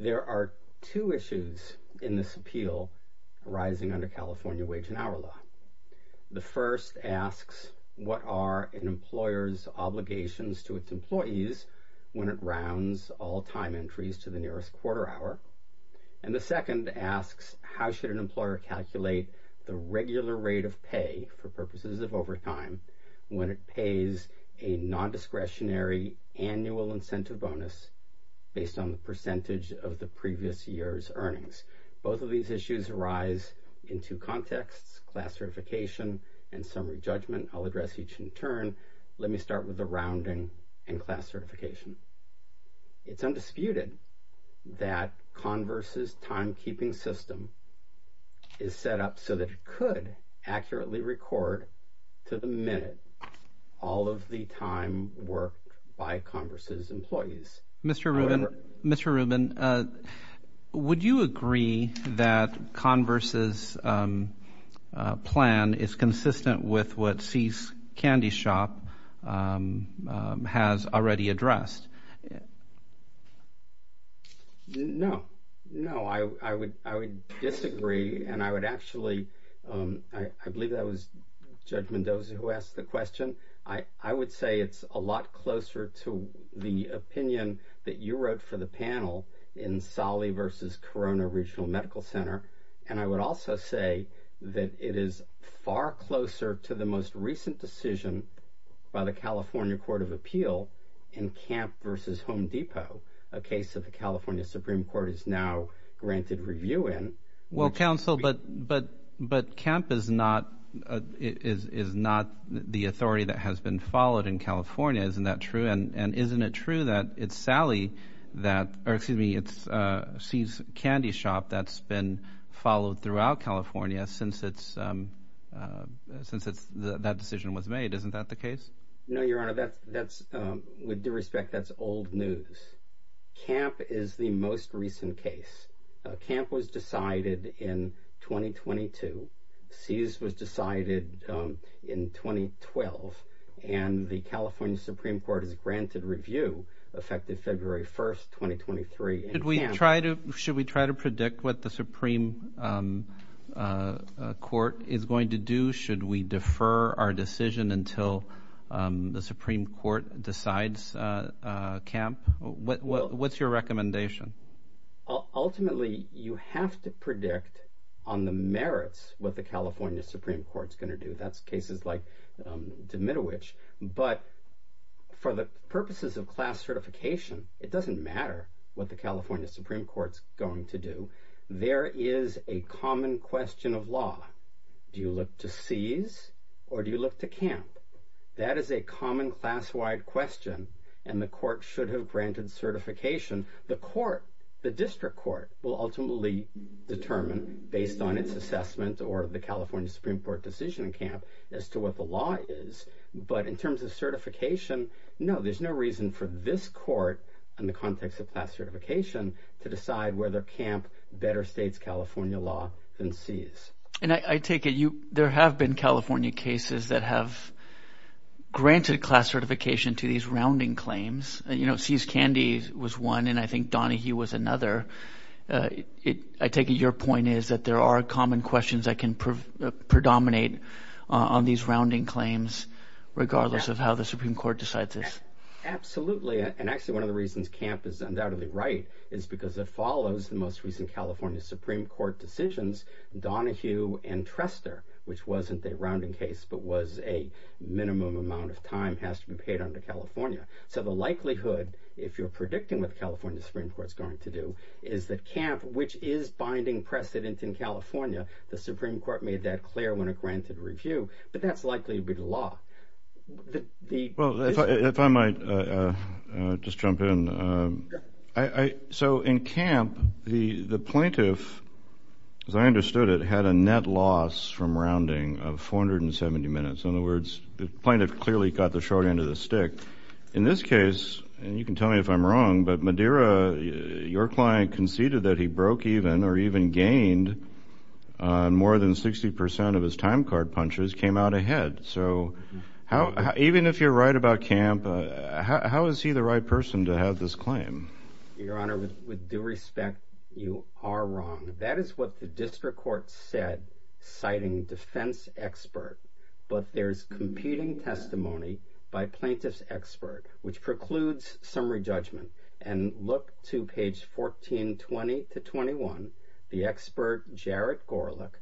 There are two issues in this appeal arising under California Wage and Hour Law. The first asks, what are an employer's obligations to its employees when it rounds all time entries to the nearest quarter hour? And the second asks, how should an employer calculate the regular rate of pay for purposes of overtime when it pays a non-discretionary annual incentive bonus based on the percentage of the previous year's earnings? Both of these issues arise in two contexts, class certification and summary judgment. I'll address each in turn. Let me start with the rounding and class certification. It's undisputed that Converse's timekeeping system is set up so that it could accurately record to the minute all of the time work by Converse's employees. Mr. Rubin, would you agree that Converse's plan is consistent with what See's Candy Shop has already addressed? No, no, I would disagree and I would actually, I believe that was Judge Mendoza who asked the question. I would say it's a lot closer to the opinion that you wrote for the panel in Solly v. Corona Regional Medical Center and I would also say that it is far closer to the most recent decision by the California Court of Appeal in Camp v. Home Depot, a case that the California Supreme Court is now granted review in. Well, counsel, but Camp is not the authority that has been followed in California, isn't that true? And isn't it true that it's Sally that, or excuse me, it's See's Candy Shop that's been No, Your Honor, that's, with due respect, that's old news. Camp is the most recent case. Camp was decided in 2022, See's was decided in 2012 and the California Supreme Court has granted review effective February 1st, 2023. Should we try to predict what the Supreme Court is going to do? Should we defer our decision until the Supreme Court decides Camp? What's your recommendation? Ultimately, you have to predict on the merits what the California Supreme Court's going to do. That's cases like Dmitrovich, but for the purposes of class certification, it doesn't matter what the California Supreme Court's going to do. There is a common question of law. Do you look to See's or do you look to Camp? That is a common class-wide question and the court should have granted certification. The court, the district court, will ultimately determine based on its assessment or the California Supreme Court decision in Camp as to what the law is. But in terms of certification, no, there's no reason for this court in the context of class certification to decide whether Camp better states California law than See's. And I take it there have been California cases that have granted class certification to these rounding claims. You know, See's Candy was one, and I think Donahue was another. I take it your point is that there are common questions that can predominate on these rounding claims regardless of how the Supreme Court decides this. Absolutely. And actually, one of the reasons Camp is undoubtedly right is because it follows the most recent California Supreme Court decisions, Donahue and Trestor, which wasn't a rounding case but was a minimum amount of time, has to be paid under California. So the likelihood, if you're predicting what the California Supreme Court's going to do, is that Camp, which is binding precedent in California, the Supreme Court made that clear when it granted review, but that's likely to be the law. Well, if I might just jump in. So in Camp, the plaintiff, as I understood it, had a net loss from rounding of 470 minutes. In other words, the plaintiff clearly got the short end of the stick. In this case, and you can tell me if I'm wrong, but Madeira, your client conceded that he broke even or even gained more than 60 percent of his time card punches came out ahead. So even if you're right about Camp, how is he the right person to have this claim? Your Honor, with due respect, you are wrong. That is what the district court said, citing defense expert. But there's competing testimony by plaintiff's expert, which precludes summary judgment. And look to page 1420 to 21. The expert, Jared Gorlick,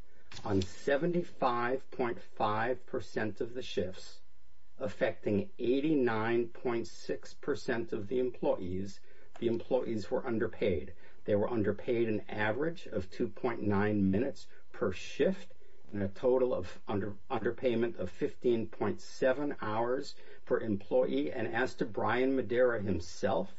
on 75.5 percent of the shifts affecting 89.6 percent of the employees, the employees were underpaid. They were underpaid an average of 2.9 minutes per shift and a total of under underpayment of 15.7 hours per employee. And as to Brian Madeira himself,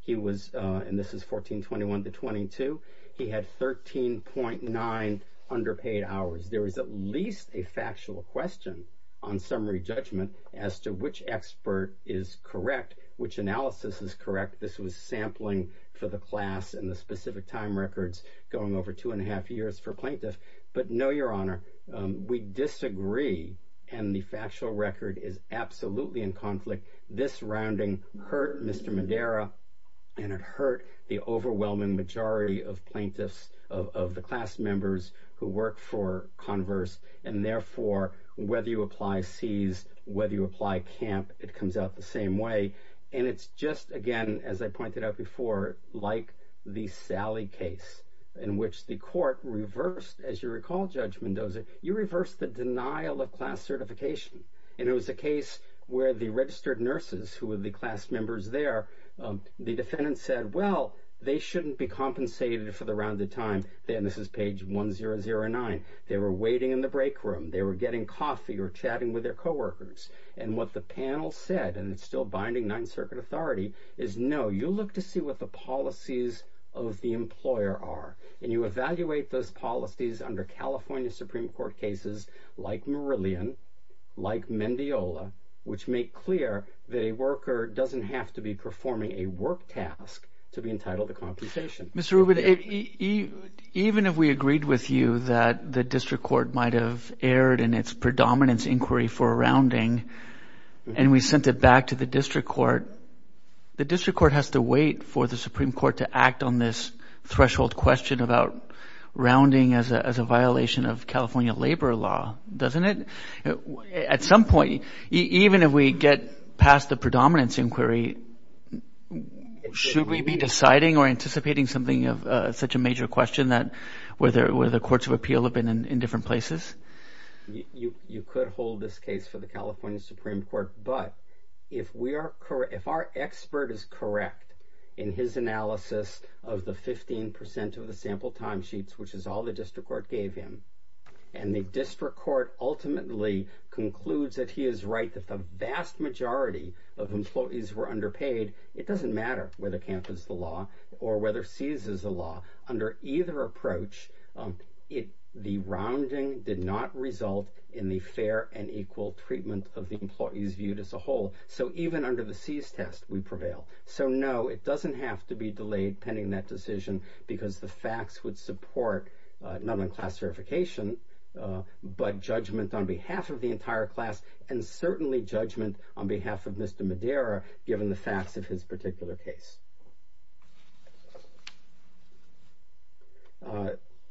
he was and this is 1421 to 22. He had 13.9 underpaid hours. There is at least a factual question on summary judgment as to which expert is correct, which analysis is correct. This was sampling for the class and the specific time records going over two and a half years for plaintiff. But no, Your Honor, we disagree. And the factual record is absolutely in conflict. This rounding hurt Mr. Madeira and it hurt the overwhelming majority of plaintiffs of the class members who work for Converse. And therefore, whether you apply seized, whether you apply camp, it comes out the same way. And it's just, again, as I pointed out before, like the Sally case in which the court reversed as you recall, Judge Mendoza, you reverse the denial of class certification. And it was a case where the registered nurses who were the class members there, the defendant said, well, they shouldn't be compensated for the rounded time. This is page 1009. They were waiting in the break room. They were getting coffee or chatting with their coworkers. And what the panel said, and it's still binding Ninth Circuit authority, is no, you look to see what the policies of the employer are. And you evaluate those policies under California Supreme Court cases like Meridian, like Mendiola, which make clear that a worker doesn't have to be performing a work task to be entitled to compensation. Mr. Rubin, even if we agreed with you that the district court might have erred in its predominance inquiry for a rounding and we sent it back to the district court, the district court has to wait for the Supreme Court to act on this threshold question about rounding as a violation of California labor law, doesn't it? At some point, even if we get past the predominance inquiry, should we be deciding or anticipating something of such a major question that where the courts of appeal have been in different places? You could hold this case for the California Supreme Court, but if we are correct, if our expert is correct in his analysis of the 15% of the sample timesheets, which is all the district court gave him, and the district court ultimately concludes that he is right that the vast majority of employees were underpaid. It doesn't matter whether CAMP is the law or whether CEAS is a law. Under either approach, the rounding did not result in the fair and equal treatment of the employees viewed as a whole. So even under the CEAS test, we prevail. So no, it doesn't have to be delayed pending that decision because the facts would support not only class verification, but judgment on behalf of the entire class and certainly judgment on behalf of Mr. Madera given the facts of his particular case.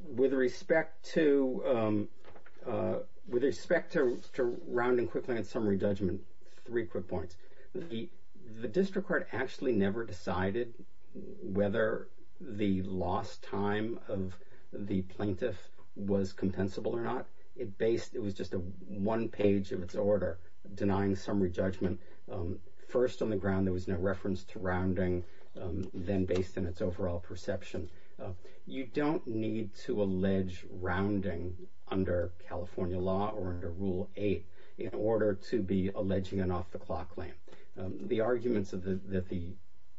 With respect to rounding quickly and summary judgment, three quick points. The district court actually never decided whether the lost time of the plaintiff was compensable or not. It based, it was just a one page of its order denying summary judgment. First on the ground, there was no reference to rounding. Then based on its overall perception, you don't need to allege rounding under California law or under Rule 8 in order to be alleging an off the clock claim. The arguments that the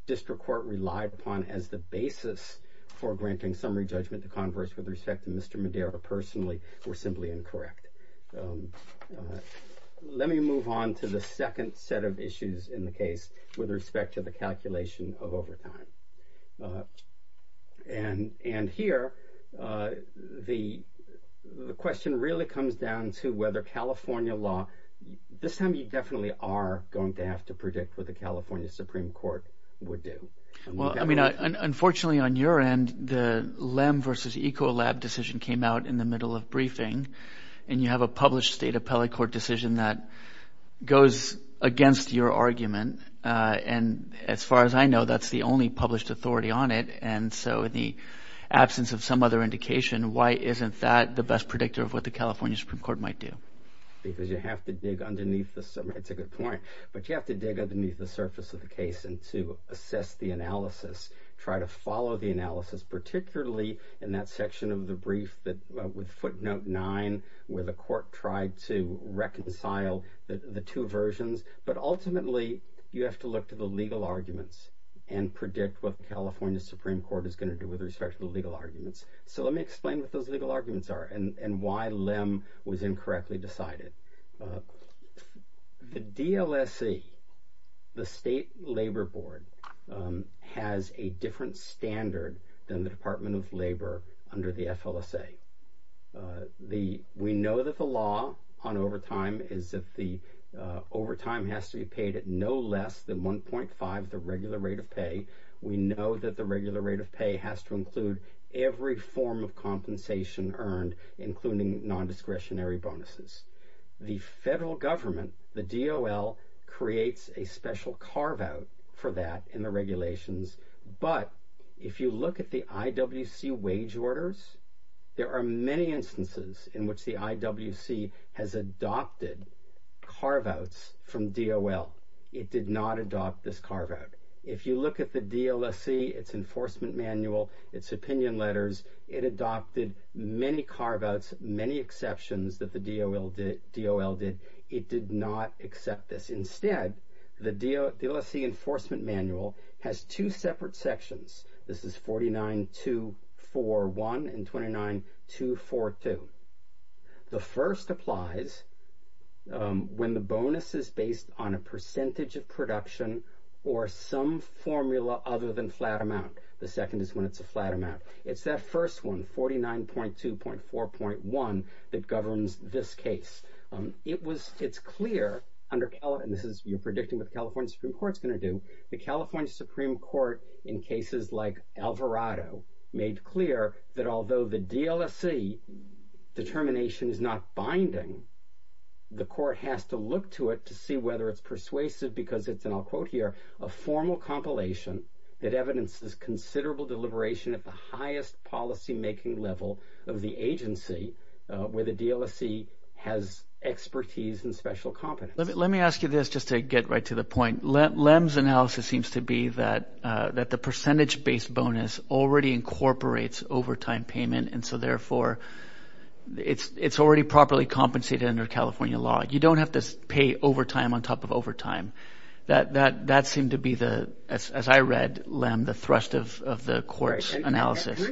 district court relied upon as the basis for granting summary judgment to converse with respect to Mr. Madera personally were simply incorrect. Let me move on to the second set of issues in the case with respect to the calculation of overtime. And here, the question really comes down to whether California law, this time you definitely are going to have to predict what the California Supreme Court would do. Well, I mean, unfortunately on your end, the Lem versus Ecolab decision came out in the middle of briefing and you have a published state appellate court decision that goes against your argument. And as far as I know, that's the only published authority on it. And so in the absence of some other indication, why isn't that the best predictor of what the California Supreme Court might do? Because you have to dig underneath the, that's a good point, but you have to dig underneath the surface of the case and to assess the analysis, try to follow the analysis, particularly in that section of the brief with footnote 9 where the court tried to reconcile the two versions, but ultimately you have to look to the legal arguments and predict what the California Supreme Court is going to do with respect to the legal arguments. So let me explain what those legal arguments are and why Lem was incorrectly decided. The DLSC, the State Labor Board, has a different standard than the Department of Labor under the FLSA. We know that the law on overtime is that the overtime has to be paid at no less than 1.5, the regular rate of pay. We know that the regular rate of pay has to include every form of compensation earned, including non-discretionary bonuses. The federal government, the DOL, creates a special carve-out for that in the regulations, but if you look at the IWC wage orders, there are many instances in which the IWC has adopted carve-outs from DOL. It did not adopt this carve-out. If you look at the DLSC, its enforcement manual, its opinion letters, it adopted many carve-outs, many exceptions that the DOL did. It did not accept this. Instead, the DLSC enforcement manual has two separate sections. This is 49.241 and 29.242. The first applies when the bonus is based on a percentage of production or some formula other than flat amount. The second is when it's a flat amount. It's that first one, 49.2.4.1, that governs this case. It's clear, and you're predicting what the California Supreme Court's going to do, the California Supreme Court, in cases like Alvarado, made clear that although the DLSC determination is not binding, the court has to look to it to see whether it's persuasive because it's, and I'll quote here, a formal compilation that evidences considerable deliberation at the highest policy-making level of the agency where the DLSC has expertise and special competence. Let me ask you this just to get right to the point. Lem's analysis seems to be that the percentage-based bonus already incorporates overtime payment, and so, therefore, it's already properly compensated under California law. You don't have to pay overtime on top of overtime. That seemed to be, as I read, Lem, the thrust of the court's analysis.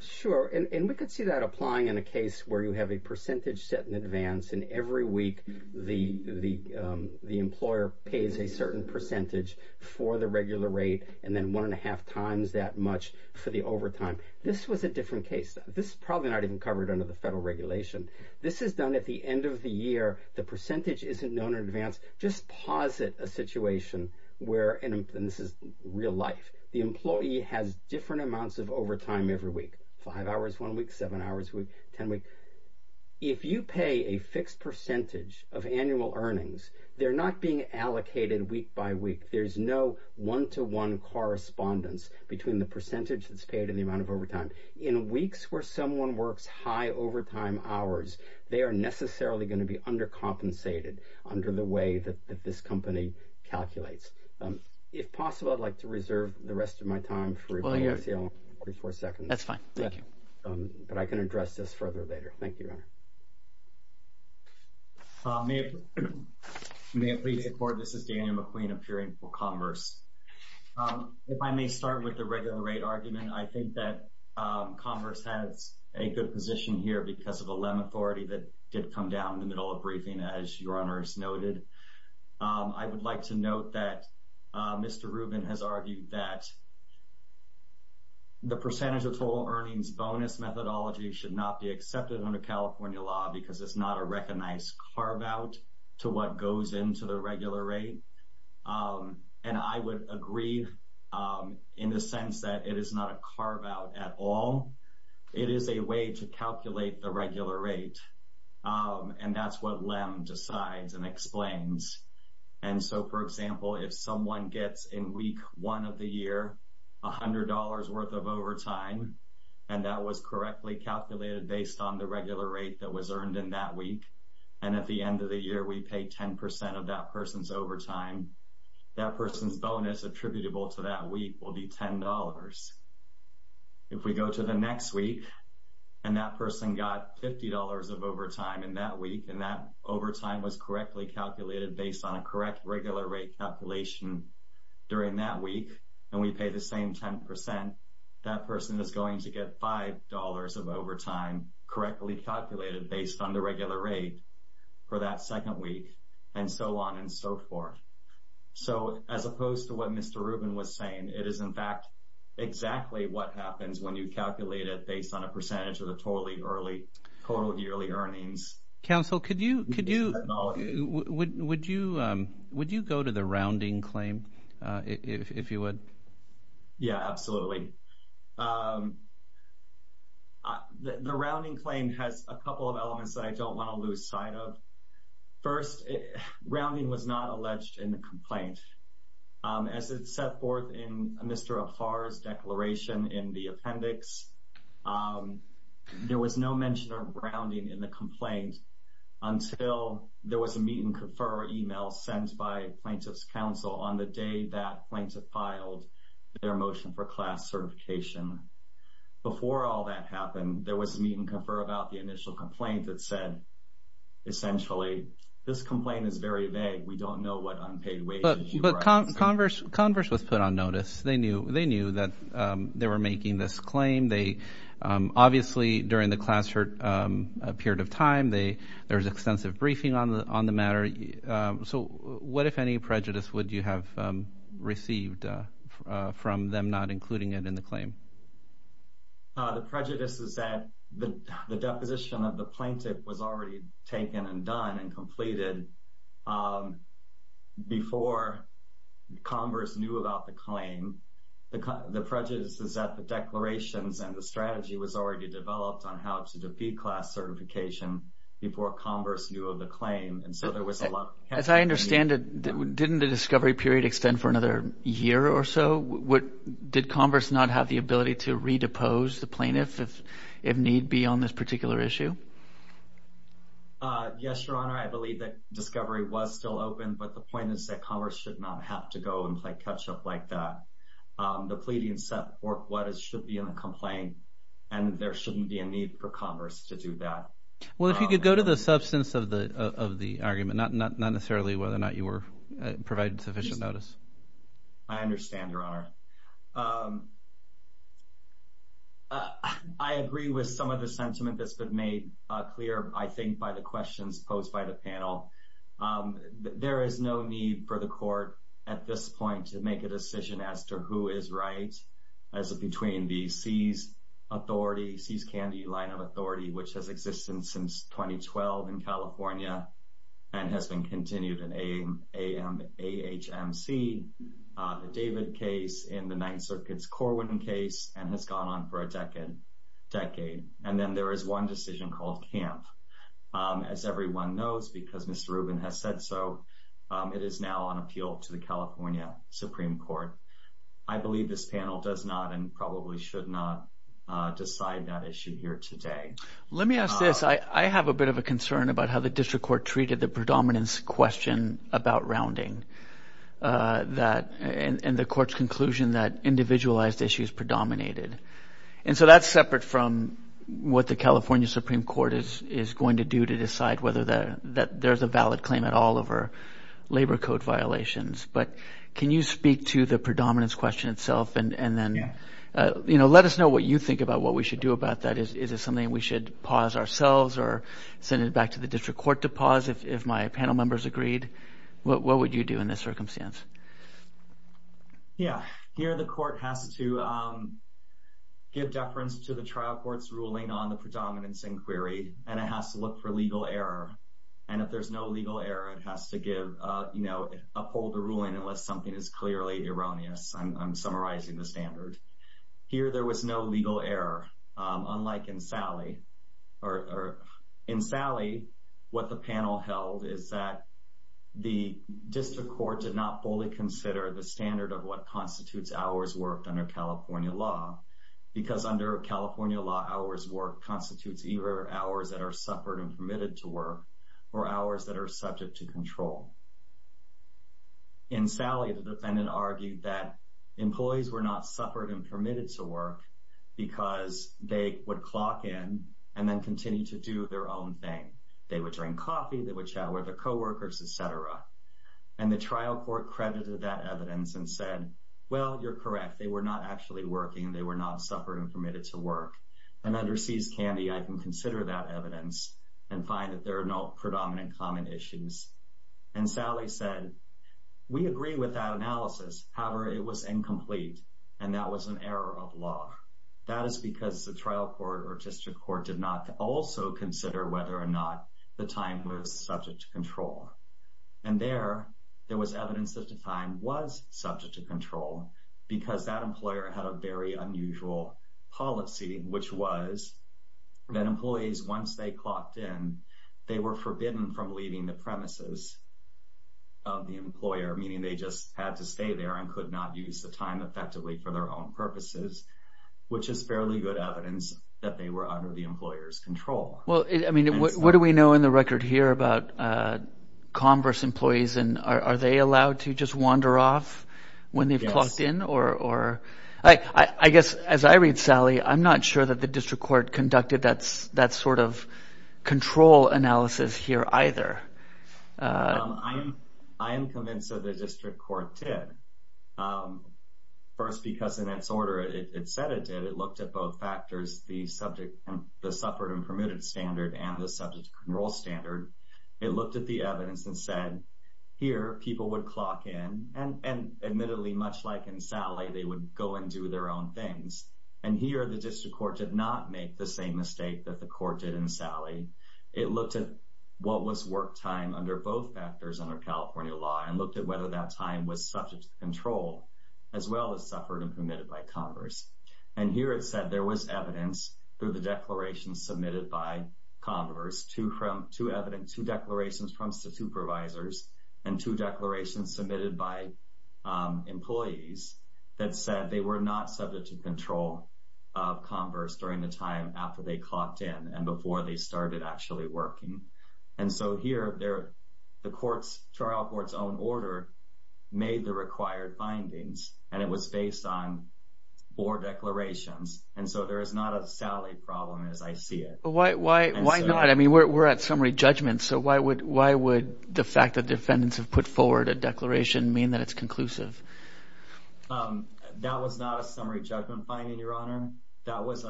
Sure, and we could see that applying in a case where you have a percentage set in advance, and every week the employer pays a certain percentage for the regular rate and then one-and-a-half times that much for the overtime. This was a different case. This is probably not even covered under the federal regulation. This is done at the end of the year. The percentage isn't known in advance. Just posit a situation where, and this is real life, the employee has different amounts of overtime every week, five hours one week, seven hours a week, ten weeks. If you pay a fixed percentage of annual earnings, they're not being allocated week by week. There's no one-to-one correspondence between the percentage that's paid and the amount of overtime. In weeks where someone works high overtime hours, they are necessarily going to be undercompensated under the way that this company calculates. If possible, I'd like to reserve the rest of my time for a brief Q&A. That's fine. Thank you. But I can address this further later. Thank you, Your Honor. May it please the Court, this is Daniel McQueen of Peering for Commerce. If I may start with the regular rate argument, I think that Commerce has a good position here because of the LEM authority that did come down in the middle of briefing, as Your Honor has noted. I would like to note that Mr. Rubin has argued that the percentage of total earnings bonus methodology should not be accepted under California law because it's not a recognized carve-out to what goes into the regular rate. And I would agree in the sense that it is not a carve-out at all. It is a way to calculate the regular rate, and that's what LEM decides and explains. And so, for example, if someone gets, in week one of the year, $100 worth of overtime, and that was correctly calculated based on the regular rate that was earned in that week, and at the end of the year we pay 10% of that person's overtime, that person's bonus attributable to that week will be $10. If we go to the next week, and that person got $50 of overtime in that week, and that overtime was correctly calculated based on a correct regular rate calculation during that week, and we pay the same 10%, that person is going to get $5 of overtime correctly calculated based on the regular rate for that second week, and so on and so forth. So as opposed to what Mr. Rubin was saying, it is in fact exactly what happens when you calculate it based on a percentage of the total yearly earnings methodology. Would you go to the rounding claim, if you would? Yeah, absolutely. The rounding claim has a couple of elements that I don't want to lose sight of. First, rounding was not alleged in the complaint. As it's set forth in Mr. Ahar's declaration in the appendix, until there was a meet-and-confer email sent by Plaintiff's Counsel on the day that Plaintiff filed their motion for class certification. Before all that happened, there was a meet-and-confer about the initial complaint that said, essentially, this complaint is very vague. We don't know what unpaid wages you are asking. But Converse was put on notice. They knew that they were making this claim. Obviously, during the class period of time, there was extensive briefing on the matter. So what, if any, prejudice would you have received from them not including it in the claim? The prejudice is that the deposition of the plaintiff was already taken and done and completed before Converse knew about the claim. The prejudice is that the declarations and the strategy was already developed on how to defeat class certification before Converse knew of the claim. As I understand it, didn't the discovery period extend for another year or so? Did Converse not have the ability to redepose the plaintiff if need be on this particular issue? Yes, Your Honor. I believe that discovery was still open. But the point is that Converse should not have to go and play catch-up like that. The pleading set forth what should be in the complaint, and there shouldn't be a need for Converse to do that. Well, if you could go to the substance of the argument, not necessarily whether or not you provided sufficient notice. I understand, Your Honor. I agree with some of the sentiment that's been made clear, I think, by the questions posed by the panel. There is no need for the court, at this point, to make a decision as to who is right. As between the C's authority, C's Candy line of authority, which has existed since 2012 in California and has been continued in AHMC, the David case, and the Ninth Circuit's Corwin case, and has gone on for a decade. And then there is one decision called Camp. As everyone knows, because Mr. Rubin has said so, it is now on appeal to the California Supreme Court. I believe this panel does not and probably should not decide that issue here today. Let me ask this. I have a bit of a concern about how the district court treated the predominance question about rounding and the court's conclusion that individualized issues predominated. And so that's separate from what the California Supreme Court is going to do to decide whether there's a valid claim at all over labor code violations. But can you speak to the predominance question itself? And then let us know what you think about what we should do about that. Is it something we should pause ourselves or send it back to the district court to pause if my panel members agreed? What would you do in this circumstance? Yeah. Here the court has to give deference to the trial court's ruling on the predominance inquiry, and it has to look for legal error. And if there's no legal error, it has to give, you know, uphold the ruling unless something is clearly erroneous. I'm summarizing the standard. Here there was no legal error, unlike in Sally. In Sally, what the panel held is that the district court did not fully consider the standard of what constitutes hours worked under California law, because under California law, hours worked constitutes either hours that are suffered and permitted to work or hours that are subject to control. In Sally, the defendant argued that employees were not suffered and permitted to work because they would clock in and then continue to do their own thing. They would drink coffee. They would chat with their co-workers, et cetera. And the trial court credited that evidence and said, well, you're correct. They were not actually working. They were not suffered and permitted to work. And under CS Candy, I can consider that evidence and find that there are no predominant common issues. And Sally said, we agree with that analysis. However, it was incomplete. And that was an error of law. That is because the trial court or district court did not also consider whether or not the time was subject to control. And there, there was evidence that the time was subject to control because that employer had a very unusual policy, which was that employees, once they clocked in, they were forbidden from leaving the premises of the employer, meaning they just had to stay there and could not use the time effectively for their own purposes, which is fairly good evidence that they were under the employer's control. Well, I mean, what do we know in the record here about Converse employees? And are they allowed to just wander off when they've clocked in? Or I guess as I read Sally, I'm not sure that the district court conducted that sort of control analysis here either. I am convinced that the district court did. First, because in its order, it said it did. It looked at both factors, the subject, the suffered and permitted standard and the subject to control standard. It looked at the evidence and said, here, people would clock in. And admittedly, much like in Sally, they would go and do their own things. And here the district court did not make the same mistake that the court did in Sally. It looked at what was work time under both factors under California law and looked at whether that time was subject to control as well as suffered and permitted by Converse. And here it said there was evidence through the declaration submitted by Converse, two declarations from supervisors and two declarations submitted by employees that said they were not subject to control of Converse during the time after they clocked in and before they started actually working. And so here, the trial court's own order made the required findings. And it was based on four declarations. And so there is not a Sally problem as I see it. Why not? I mean we're at summary judgment, so why would the fact that defendants have put forward a declaration mean that it's conclusive? That was not a summary judgment finding, Your Honor. That was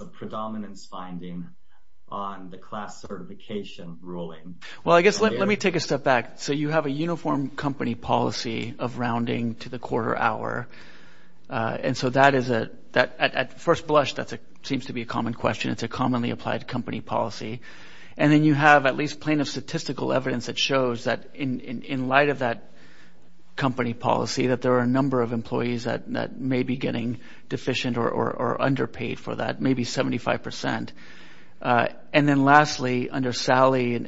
a predominance finding on the class certification ruling. Well, I guess let me take a step back. So you have a uniform company policy of rounding to the quarter hour. And so that is a – at first blush, that seems to be a common question. It's a commonly applied company policy. And then you have at least plaintiff statistical evidence that shows that in light of that company policy that there are a number of employees that may be getting deficient or underpaid for that, maybe 75%. And then lastly, under Sally,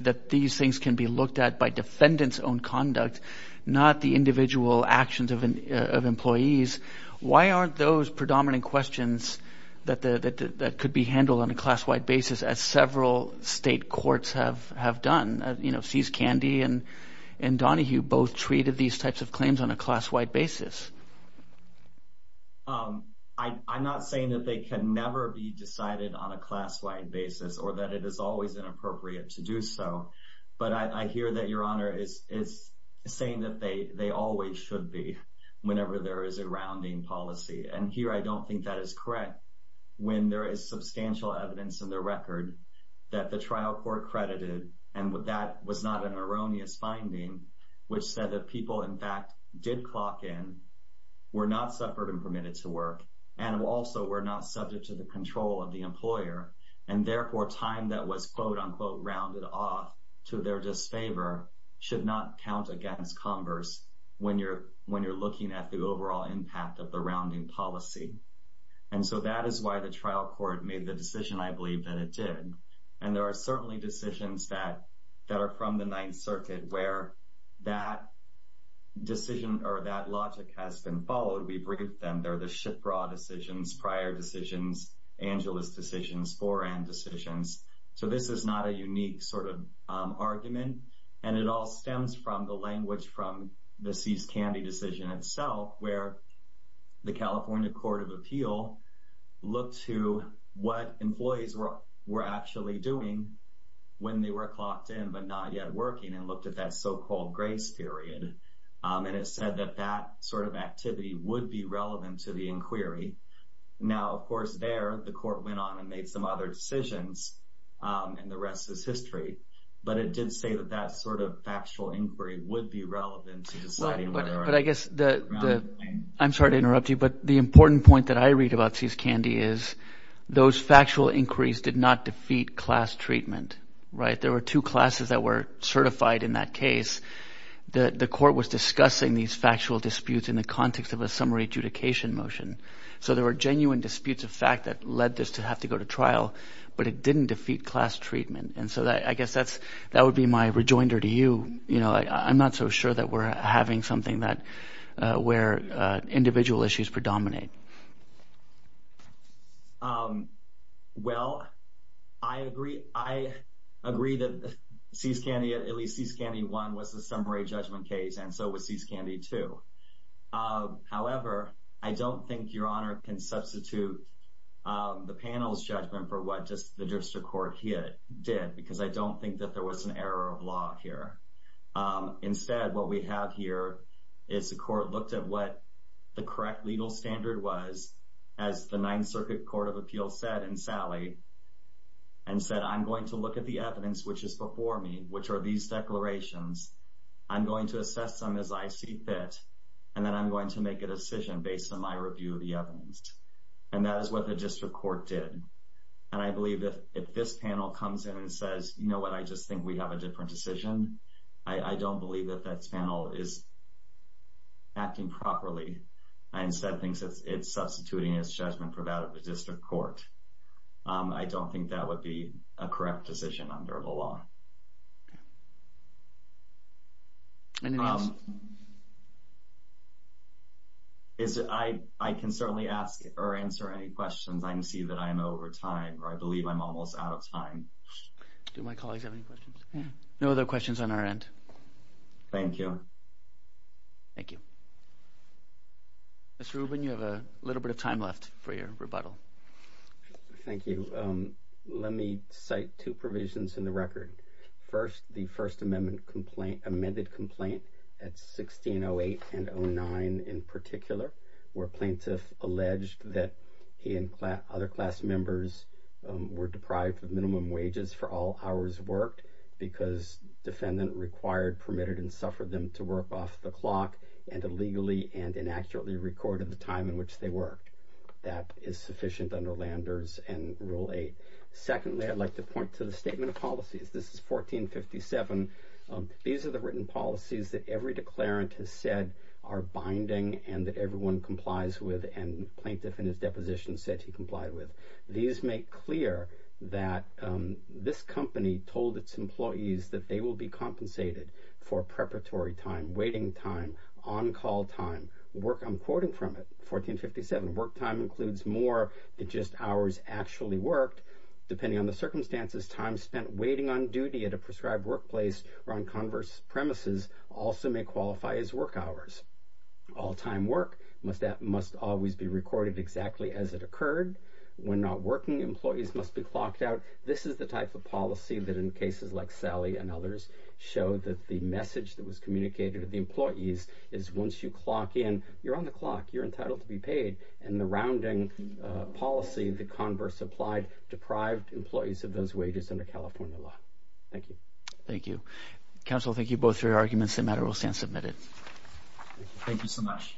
that these things can be looked at by defendant's own conduct, not the individual actions of employees. Why aren't those predominant questions that could be handled on a class-wide basis as several state courts have done? You know, C.S. Candy and Donahue both treated these types of claims on a class-wide basis. I'm not saying that they can never be decided on a class-wide basis or that it is always inappropriate to do so. But I hear that Your Honor is saying that they always should be whenever there is a rounding policy. And here I don't think that is correct when there is substantial evidence in the record that the trial court credited, and that was not an erroneous finding, which said that people, in fact, did clock in, were not suffered and permitted to work, and also were not subject to the control of the employer. And therefore, time that was quote-unquote rounded off to their disfavor should not count against converse when you're looking at the overall impact of the rounding policy. And so that is why the trial court made the decision, I believe, that it did. And there are certainly decisions that are from the Ninth Circuit where that decision or that logic has been followed. We bring up them. They're the Shipra decisions, prior decisions, Angeles decisions, Foran decisions. So this is not a unique sort of argument, and it all stems from the language from the Seize Candy decision itself, where the California Court of Appeal looked to what employees were actually doing when they were clocked in but not yet working and looked at that so-called grace period. And it said that that sort of activity would be relevant to the inquiry. Now, of course, there the court went on and made some other decisions, and the rest is history. But it did say that that sort of factual inquiry would be relevant to deciding whether or not to round the claim. I'm sorry to interrupt you, but the important point that I read about Seize Candy is those factual inquiries did not defeat class treatment. There were two classes that were certified in that case. The court was discussing these factual disputes in the context of a summary adjudication motion. So there were genuine disputes of fact that led this to have to go to trial, but it didn't defeat class treatment. And so I guess that would be my rejoinder to you. I'm not so sure that we're having something where individual issues predominate. Well, I agree. I agree that Seize Candy, at least Seize Candy 1, was a summary judgment case, and so was Seize Candy 2. However, I don't think Your Honor can substitute the panel's judgment for what the district court did because I don't think that there was an error of law here. Instead, what we have here is the court looked at what the correct legal standard was, as the Ninth Circuit Court of Appeals said in Sally, and said, I'm going to look at the evidence which is before me, which are these declarations. I'm going to assess them as I see fit, and then I'm going to make a decision based on my review of the evidence. And that is what the district court did. And I believe that if this panel comes in and says, you know what, I just think we have a different decision, I don't believe that that panel is acting properly. I instead think it's substituting its judgment for that of the district court. I don't think that would be a correct decision under the law. Anything else? I can certainly ask or answer any questions. I can see that I am over time, or I believe I'm almost out of time. Do my colleagues have any questions? No other questions on our end. Thank you. Thank you. Mr. Rubin, you have a little bit of time left for your rebuttal. Thank you. Let me cite two provisions in the record. First, the First Amendment complaint, amended complaint at 1608 and 09 in particular, where plaintiff alleged that he and other class members were deprived of minimum wages for all hours worked because defendant required, permitted, and suffered them to work off the clock and illegally and inaccurately recorded the time in which they worked. That is sufficient under Landers and Rule 8. Secondly, I'd like to point to the Statement of Policies. This is 1457. These are the written policies that every declarant has said are binding and that everyone complies with and the plaintiff in his deposition said he complied with. These make clear that this company told its employees that they will be compensated for preparatory time, waiting time, on-call time. The work I'm quoting from it, 1457, work time includes more than just hours actually worked. Depending on the circumstances, time spent waiting on duty at a prescribed workplace or on converse premises also may qualify as work hours. All-time work must always be recorded exactly as it occurred. When not working, employees must be clocked out. This is the type of policy that in cases like Sally and others show that the message that was communicated to the employees is once you clock in, you're on the clock, you're entitled to be paid, and the rounding policy, the converse applied, deprived employees of those wages under California law. Thank you. Thank you. Counsel, thank you both for your arguments. The matter will stand submitted. Thank you so much.